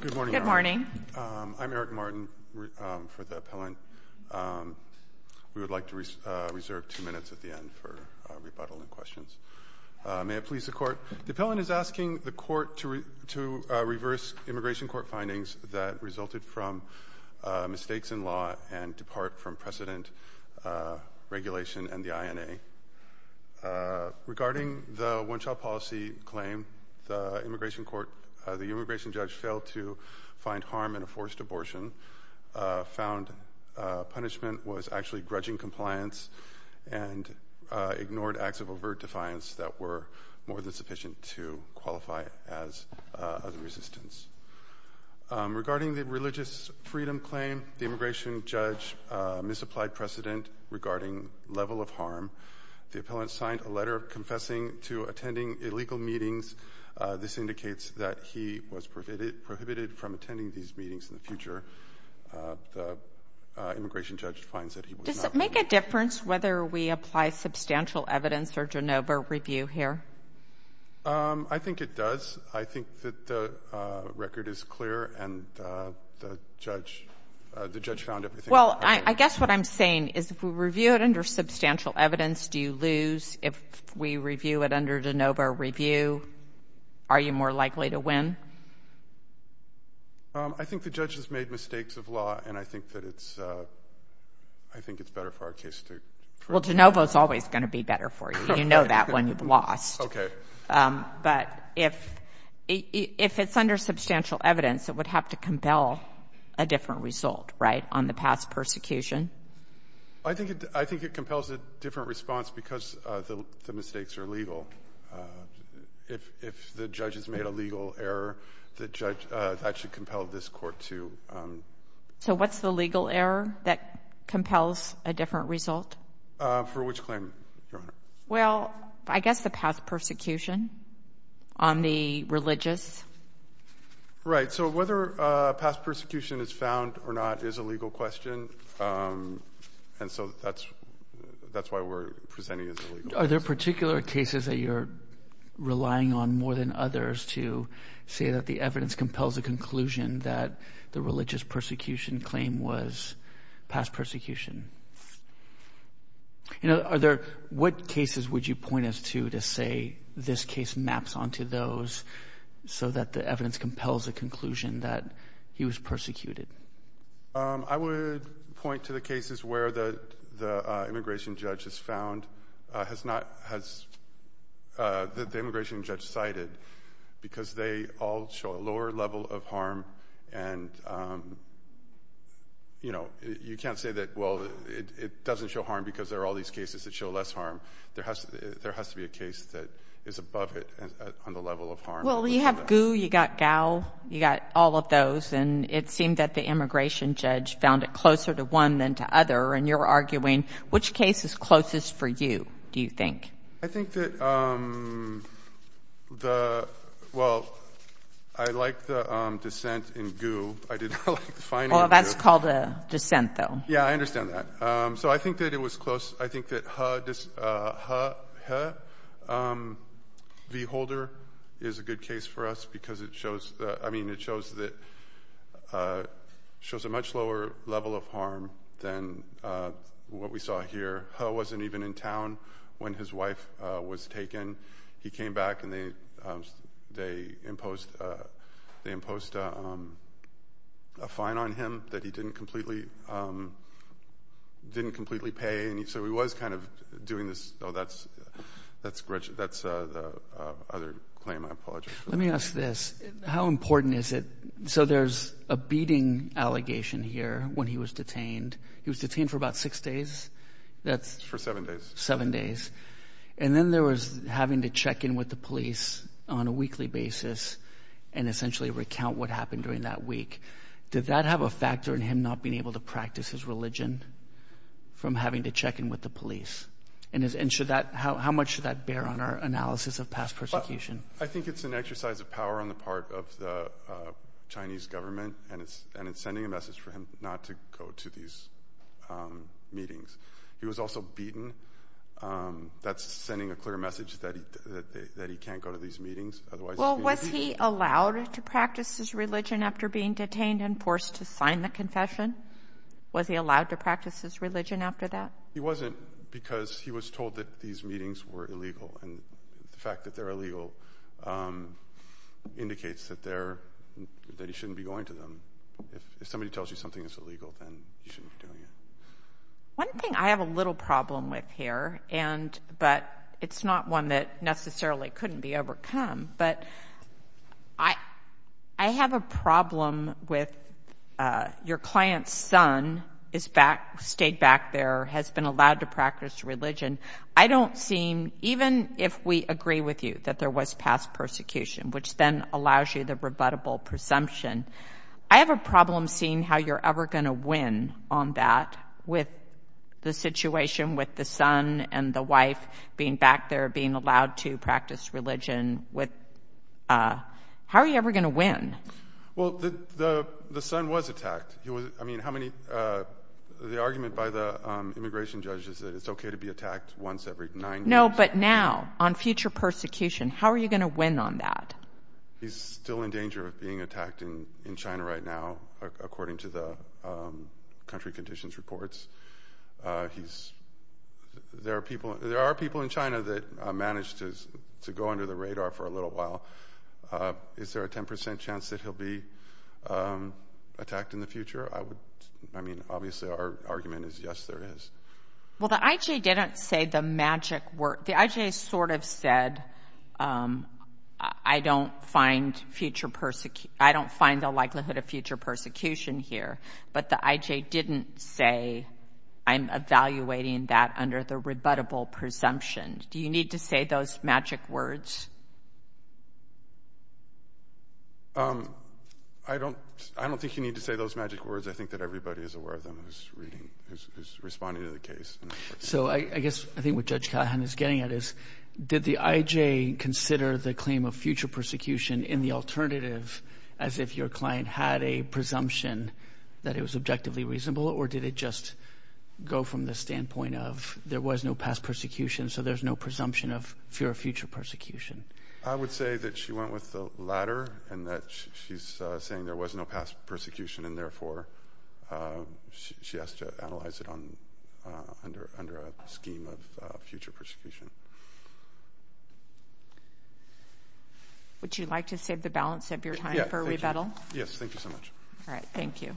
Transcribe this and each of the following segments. Good morning. I'm Eric Martin for the appellant. We would like to reserve two minutes at the end for rebuttal and questions. May it please the court. The appellant is asking the court to reverse immigration court findings that resulted from mistakes in law and depart from precedent regulation and the INA. Regarding the one-child policy claim, the immigration court, the immigration judge failed to find harm in a forced abortion, found punishment was actually grudging compliance and ignored acts of overt defiance that were more than sufficient to qualify as a resistance. Regarding the religious freedom claim, the immigration judge misapplied precedent regarding level of harm. The appellant signed a letter confessing to attending illegal meetings. This indicates that he was prohibited from attending these meetings in the future. The immigration judge finds that he was not. Sotomayor Does it make a difference whether we apply substantial evidence or de novo review here? I think it does. I think that the record is clear and the judge found everything to be correct. Sotomayor Well, I guess what I'm saying is if we review it under substantial evidence, do you lose? If we review it under de novo review, are you more likely to win? I think the judge has made mistakes of law, and I think that it's — I think it's better for our case to — Sotomayor Well, de novo is always going to be better for you. You know that when you've lost. Okay. Sotomayor But if — if it's under substantial evidence, it would have to compel a different result, right, on the past persecution? I think it — I think it compels a different response because the mistakes are legal. If the judge has made a legal error, the judge — that should compel this Court to — Sotomayor So what's the legal error that compels a different result? For which claim, Your Honor? Well, I guess the past persecution on the religious. Right. So whether past persecution is found or not is a legal question. And so that's — that's why we're presenting as illegal. Are there particular cases that you're relying on more than others to say that the evidence compels a conclusion that the religious persecution claim was past persecution? You know, are there — what cases would you point us to to say this case maps onto those so that the evidence compels a conclusion that he was persecuted? I would point to the cases where the — the immigration judge has found — has not — has — that the immigration judge cited because they all show a lower level of harm. And, you know, you can't say that, well, it doesn't show harm because there are all these cases that show less harm. There has to — there has to be a case that is above it on the level of harm. Well, you have Gu, you got Gao, you got all of those. And it seemed that the immigration judge found it closer to one than to other. And you're arguing which case is closest for you, do you think? I think that the — well, I like the dissent in Gu. I think the dissent in Gao is that I didn't like the finding of — Well, that's called a dissent, though. Yeah, I understand that. So I think that it was close. I think that He — He — He — V. Holder is a good case for us because it shows — I mean, it shows that — shows a much lower level of harm than what we saw here. He wasn't even in town when his wife was taken. He came back and they imposed — they imposed a fine on him that he didn't completely — didn't completely pay. And so he was kind of doing this — oh, that's — that's — that's the other claim. I apologize. Let me ask this. How important is it — so there's a beating allegation here when he was detained. He was detained for about six days. That's — For seven days. Seven days. And then there was having to check in with the police on a weekly basis and essentially recount what happened during that week. Did that have a factor in him not being able to practice his religion from having to check in with the police? And is — and should that — how much should that bear on our analysis of past persecution? I think it's an exercise of power on the part of the Chinese government, and it's — and that's sending a clear message that he — that he can't go to these meetings. Otherwise — Well, was he allowed to practice his religion after being detained and forced to sign the confession? Was he allowed to practice his religion after that? He wasn't, because he was told that these meetings were illegal. And the fact that they're illegal indicates that they're — that he shouldn't be going to them. If somebody tells you something is illegal, then you shouldn't be doing it. One thing I have a little problem with here, and — but it's not one that necessarily couldn't be overcome, but I have a problem with your client's son is back — stayed back there, has been allowed to practice religion. I don't seem — even if we agree with you that there was past persecution, which then allows you the rebuttable presumption, I have problem seeing how you're ever going to win on that with the situation with the son and the wife being back there, being allowed to practice religion with — how are you ever going to win? Well, the son was attacked. He was — I mean, how many — the argument by the immigration judge is that it's OK to be attacked once every nine years. No, but now, on future persecution, how are you going to win on that? He's still in danger of being attacked in China right now, according to the country conditions reports. He's — there are people in China that managed to go under the radar for a little while. Is there a 10 percent chance that he'll be attacked in the future? I would — I mean, obviously, our argument is yes, there is. Well, the IJ didn't say the magic word. The IJ sort of said, I don't find future — I don't find the likelihood of future persecution here. But the IJ didn't say, I'm evaluating that under the rebuttable presumption. Do you need to say those magic words? I don't — I don't think you need to say those magic words. I think that everybody is aware of them and is reading — is responding to the case. So I guess I think what Judge Callahan is getting at is, did the IJ consider the claim of future persecution in the alternative as if your client had a presumption that it was objectively reasonable? Or did it just go from the standpoint of there was no past persecution, so there's no presumption of fear of future persecution? I would say that she went with the latter and that she's saying there was no past persecution and, therefore, she has to analyze it under a scheme of future persecution. Would you like to save the balance of your time for rebuttal? Yes, thank you so much. All right, thank you.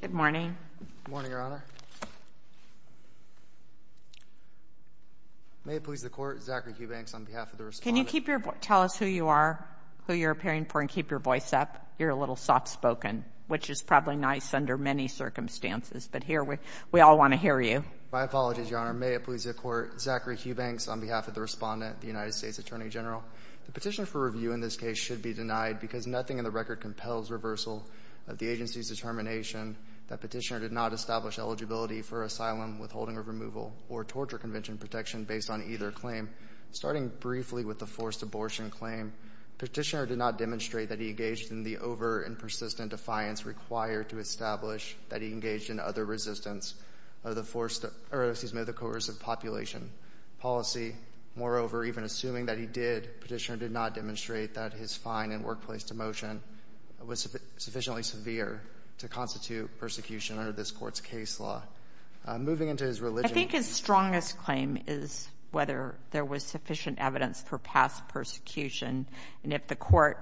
Good morning. Good morning, Your Honor. May it please the Court, Zachary Hubanks on behalf of the Respondent. Can you keep your — tell us who you are, who you're appearing for, and keep your voice up? You're a little soft-spoken, which is probably nice under many circumstances, but here we all want to hear you. My apologies, Your Honor. May it please the Court, Zachary Hubanks on behalf of the Respondent, the United States Attorney General. The petitioner for review in this case should be denied because nothing in the record compels reversal of the agency's determination that petitioner did not establish eligibility for asylum, withholding of removal, or torture convention protection based on either claim. Starting briefly with the forced abortion claim, petitioner did not demonstrate that he engaged in the over and persistent defiance required to establish that he engaged in other resistance of the coercive population policy. Moreover, even assuming that he did, petitioner did not demonstrate that his fine and workplace demotion was sufficiently severe to constitute persecution under this Court's case law. Moving into his religion — I think his strongest claim is whether there was sufficient evidence for past persecution, and if the Court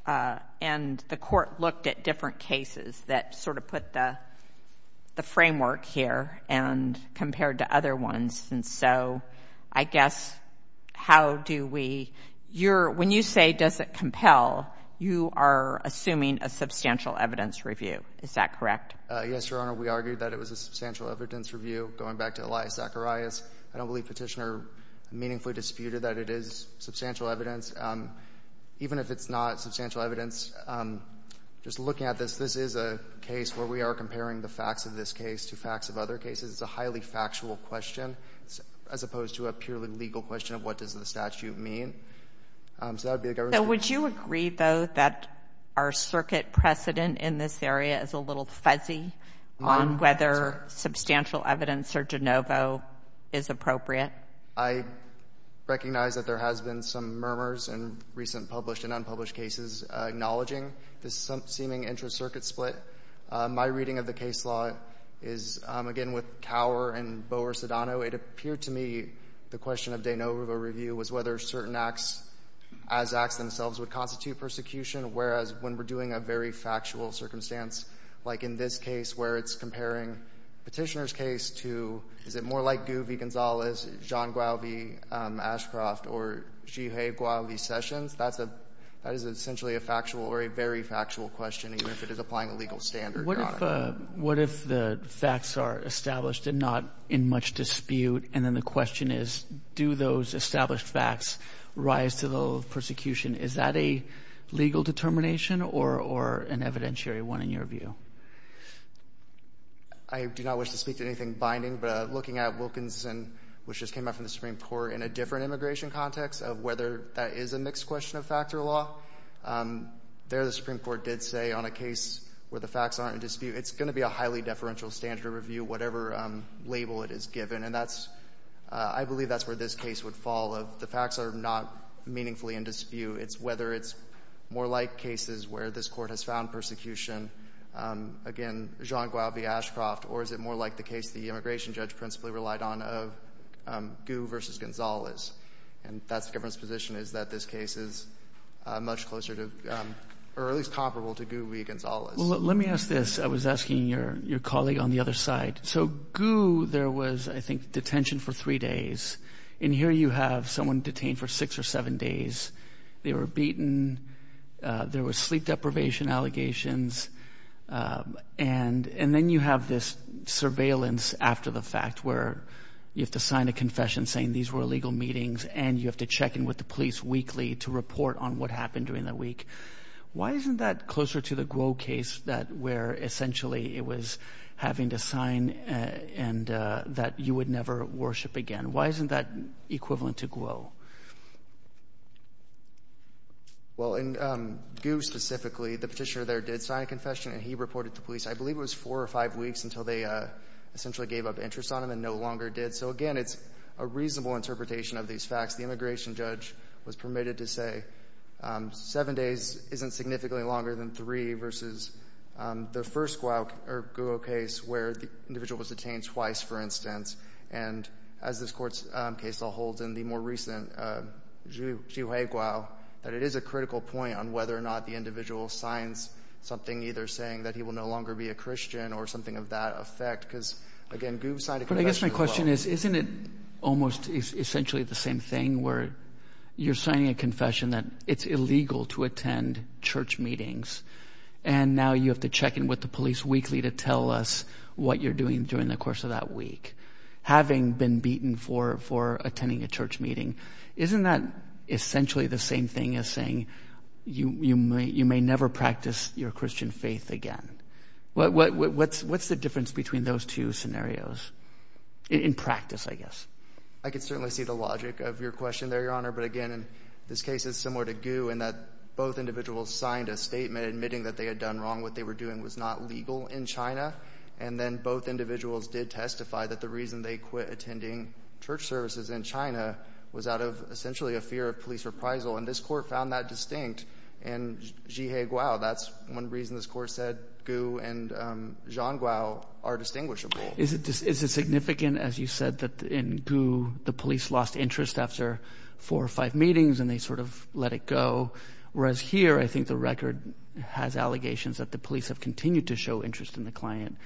— and the Court looked at different cases that sort of put the framework here and compared to other ones, and so I guess how do we — your — when you say does it compel, you are assuming a substantial evidence review. Is that correct? Yes, Your Honor. We argued that it was a substantial evidence review. Going back to Elias Zacharias, I don't believe petitioner meaningfully disputed that it is substantial evidence. Even if it's not substantial evidence, just looking at this, this is a case where we are comparing the facts of this case to facts of other cases. It's a highly factual question, as opposed to a purely legal question of what does the statute mean. So that would be a government — So would you agree, though, that our circuit precedent in this area is a little fuzzy on whether substantial evidence or de novo is appropriate? I recognize that there has been some murmurs in recent published and unpublished cases acknowledging this seeming intra-circuit split. My reading of the case law is, again, with Cower and Boer-Sedano. It appeared to me the question of de novo review was whether certain acts as acts themselves would constitute persecution, whereas when we're doing a very factual circumstance like in this case where it's comparing petitioner's case to — is it more like Guvi Gonzalez, John Guavi, Ashcroft, or Jihye Guavi-Sessions? That is essentially a factual or a very factual question, even if it is applying a legal standard, Your Honor. What if the facts are established and not in much dispute, and then the question is, do those established facts rise to the level of persecution? Is that a legal determination or an evidentiary one, in your view? I do not wish to speak to anything binding, but looking at Wilkinson, which just came out from the Supreme Court, in a different immigration context of whether that is a mixed question of factor law, there the Supreme Court did say on a case where the facts aren't in dispute, it's going to be a highly deferential standard review, whatever label it is given. And that's — I believe that's where this case would fall, of the facts are not meaningfully in dispute. It's whether it's more like cases where this Court has found persecution, again, Jeanne Guavi-Ashcroft, or is it more like the case the immigration judge principally relied on of Gu versus Gonzalez? And that's the government's position, is that this case is much closer to — or at least comparable to Gu v. Gonzalez. Well, let me ask this. I was asking your colleague on the other side. So, Gu, there was, I think, detention for three days. And here you have someone detained for six or seven days. They were beaten. There were sleep deprivation allegations. And then you have this surveillance after the fact, where you have to sign a confession saying these were illegal meetings, and you have to check in with the police weekly to report on what happened during that week. Why isn't that closer to the Guo case that where, essentially, it was having to sign and that you would never worship again? Why isn't that equivalent to Guo? Well, in Gu specifically, the petitioner there did sign a confession, and he reported to police, I believe it was four or five weeks until they essentially gave up interest on him and no longer did. So, again, it's a reasonable interpretation of these facts. The immigration judge was permitted to say seven days isn't significantly longer than three versus the first Guo case where the individual was detained twice, for instance. And as this court's case law holds in the more recent Zhihui Guo, that it is a critical point on whether or not the individual signs something either saying that he will no longer be a Christian or something of that effect. Because, again, Guo signed a confession as well. But I guess my question is, isn't it almost essentially the same thing where you're signing a confession that it's illegal to attend church meetings, and now you have to check in with the police weekly to tell us what you're doing during the course of that week? Having been beaten for attending a church meeting, isn't that essentially the same thing as saying you may never practice your Christian faith again? What's the difference between those two scenarios? In practice, I guess. I could certainly see the logic of your question there, Your Honor. But, again, this case is similar to Guo in that both individuals signed a statement admitting that they had done wrong, what they were doing was not legal in China. And then both individuals did testify that the reason they quit attending church services in China was out of essentially a fear of police reprisal. And this court found that distinct in Zhihe Guo. That's one reason this court said Guo and Zhang Guo are distinguishable. Is it significant, as you said, that in Guo, the police lost interest after four or five meetings, and they sort of let it go? Whereas here, I think the record has allegations that the police have continued to show interest in the client.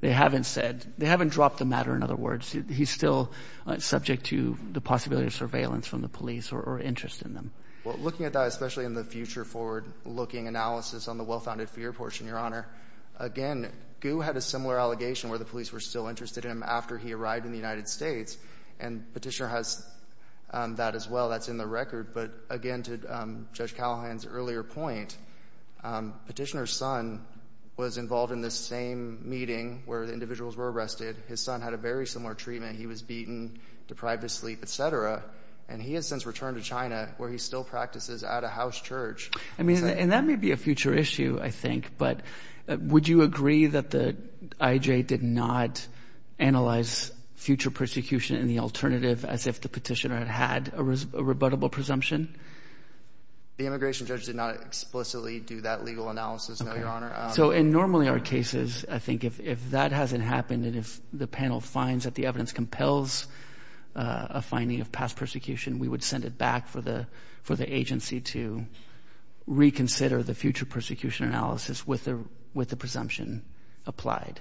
They haven't dropped the matter. In other words, he's still subject to the possibility of surveillance from the police or interest in them. Looking at that, especially in the future forward-looking analysis on the well-founded fear portion, Your Honor, again, Guo had a similar allegation where the police were still interested in him after he arrived in the United States. And Petitioner has that as well. That's in the record. But, again, to Judge Callahan's earlier point, Petitioner's son was involved in this same meeting where the individuals were arrested. His son had a very similar treatment. He was beaten, deprived of sleep, et cetera. And he has since returned to China, where he still practices at a house church. I mean, and that may be a future issue, I think. But would you agree that the IJ did not analyze future persecution in the alternative as if the Petitioner had had a rebuttable presumption? The immigration judge did not explicitly do that legal analysis, no, Your Honor. So in normally our cases, I think if that hasn't happened and if the panel finds that the evidence compels a finding of past persecution, we would send it back for the agency to reconsider the future persecution analysis with the presumption applied.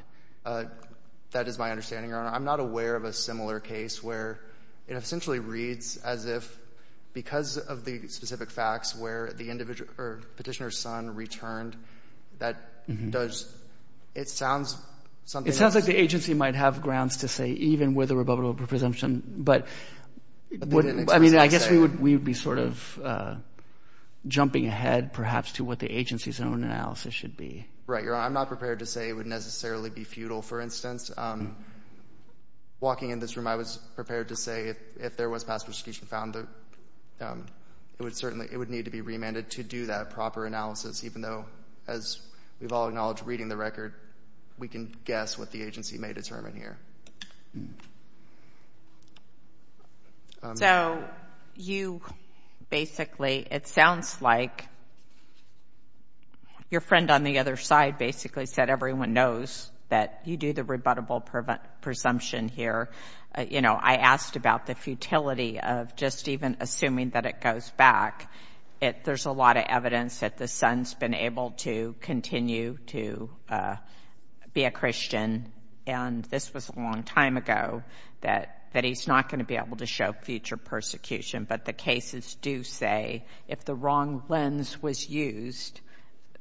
That is my understanding, Your Honor. I'm not aware of a similar case where it essentially reads as if because of the specific facts where the Petitioner's son returned, it sounds something else. It sounds like the agency might have grounds to say even with a rebuttable presumption. But I mean, I guess we would be sort of jumping ahead perhaps to what the agency's own analysis should be. Right, Your Honor. I'm not prepared to say it would necessarily be futile. For instance, walking in this room, I was prepared to say if there was past persecution found, it would certainly, it would need to be remanded to do that proper analysis, even though as we've all acknowledged reading the record, we can guess what the agency may determine here. So you basically, it sounds like your friend on the other side basically said everyone knows that you do the rebuttable presumption here. You know, I asked about the futility of just even assuming that it goes back. There's a lot of evidence that the son's been able to continue to be a Christian, and this was a long time ago, that he's not going to be able to show future persecution. But the cases do say if the wrong lens was used,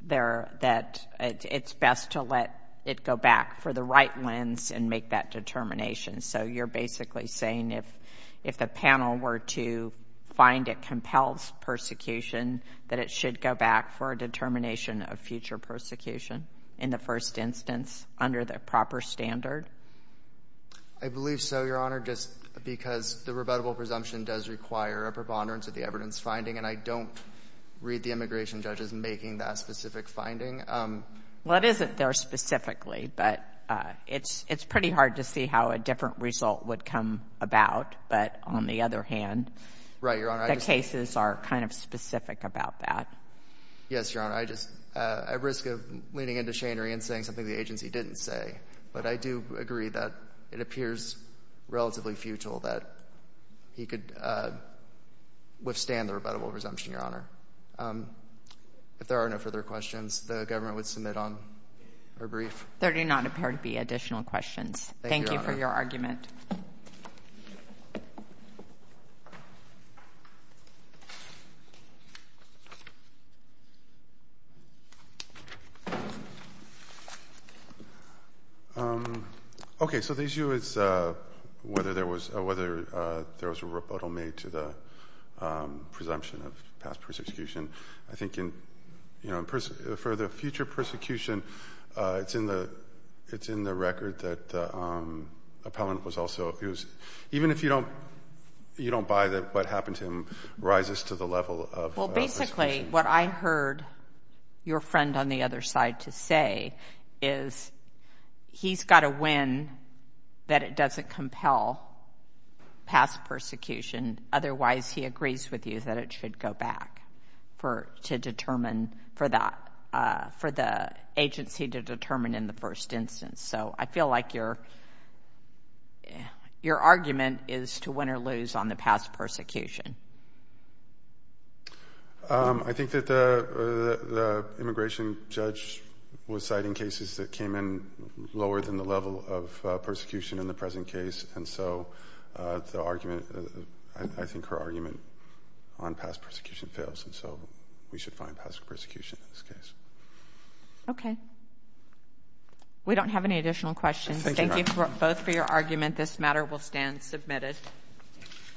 that it's best to let it go back for the right lens and make that determination. So you're basically saying if the panel were to find it compels persecution, that it should go back for a determination of future persecution in the first instance under the proper standard? I believe so, Your Honor, just because the rebuttable presumption does require a preponderance of the evidence finding, and I don't read the immigration judges making that specific finding. Well, it isn't there specifically, but it's pretty hard to see how a different result would come about. But on the other hand, the cases are kind of specific about that. Yes, Your Honor. I just, at risk of leaning into Shane or Ian saying something the agency didn't say, but I do agree that it appears relatively futile that he could withstand the rebuttable presumption, Your Honor. If there are no further questions, the government would submit on a brief. There do not appear to be additional questions. Thank you for your argument. Okay, so the issue is whether there was a rebuttal made to the presumption of past persecution. I think in, you know, for the future persecution, it's in the record that appellant was also, even if you don't buy that what happened to him rises to the level of persecution. Well, basically what I heard your friend on the other side to say is he's got to win that it doesn't compel past persecution. Otherwise, he agrees with you that it should go back for, to determine for that, for the agency to determine in the first instance. So I feel like your argument is to win or lose on the past persecution. I think that the immigration judge was citing cases that came in lower than the level of persecution in the present case. And so the argument, I think her argument on past persecution fails. And so we should find past persecution in this case. Okay, we don't have any additional questions. Thank you both for your argument. This matter will stand submitted.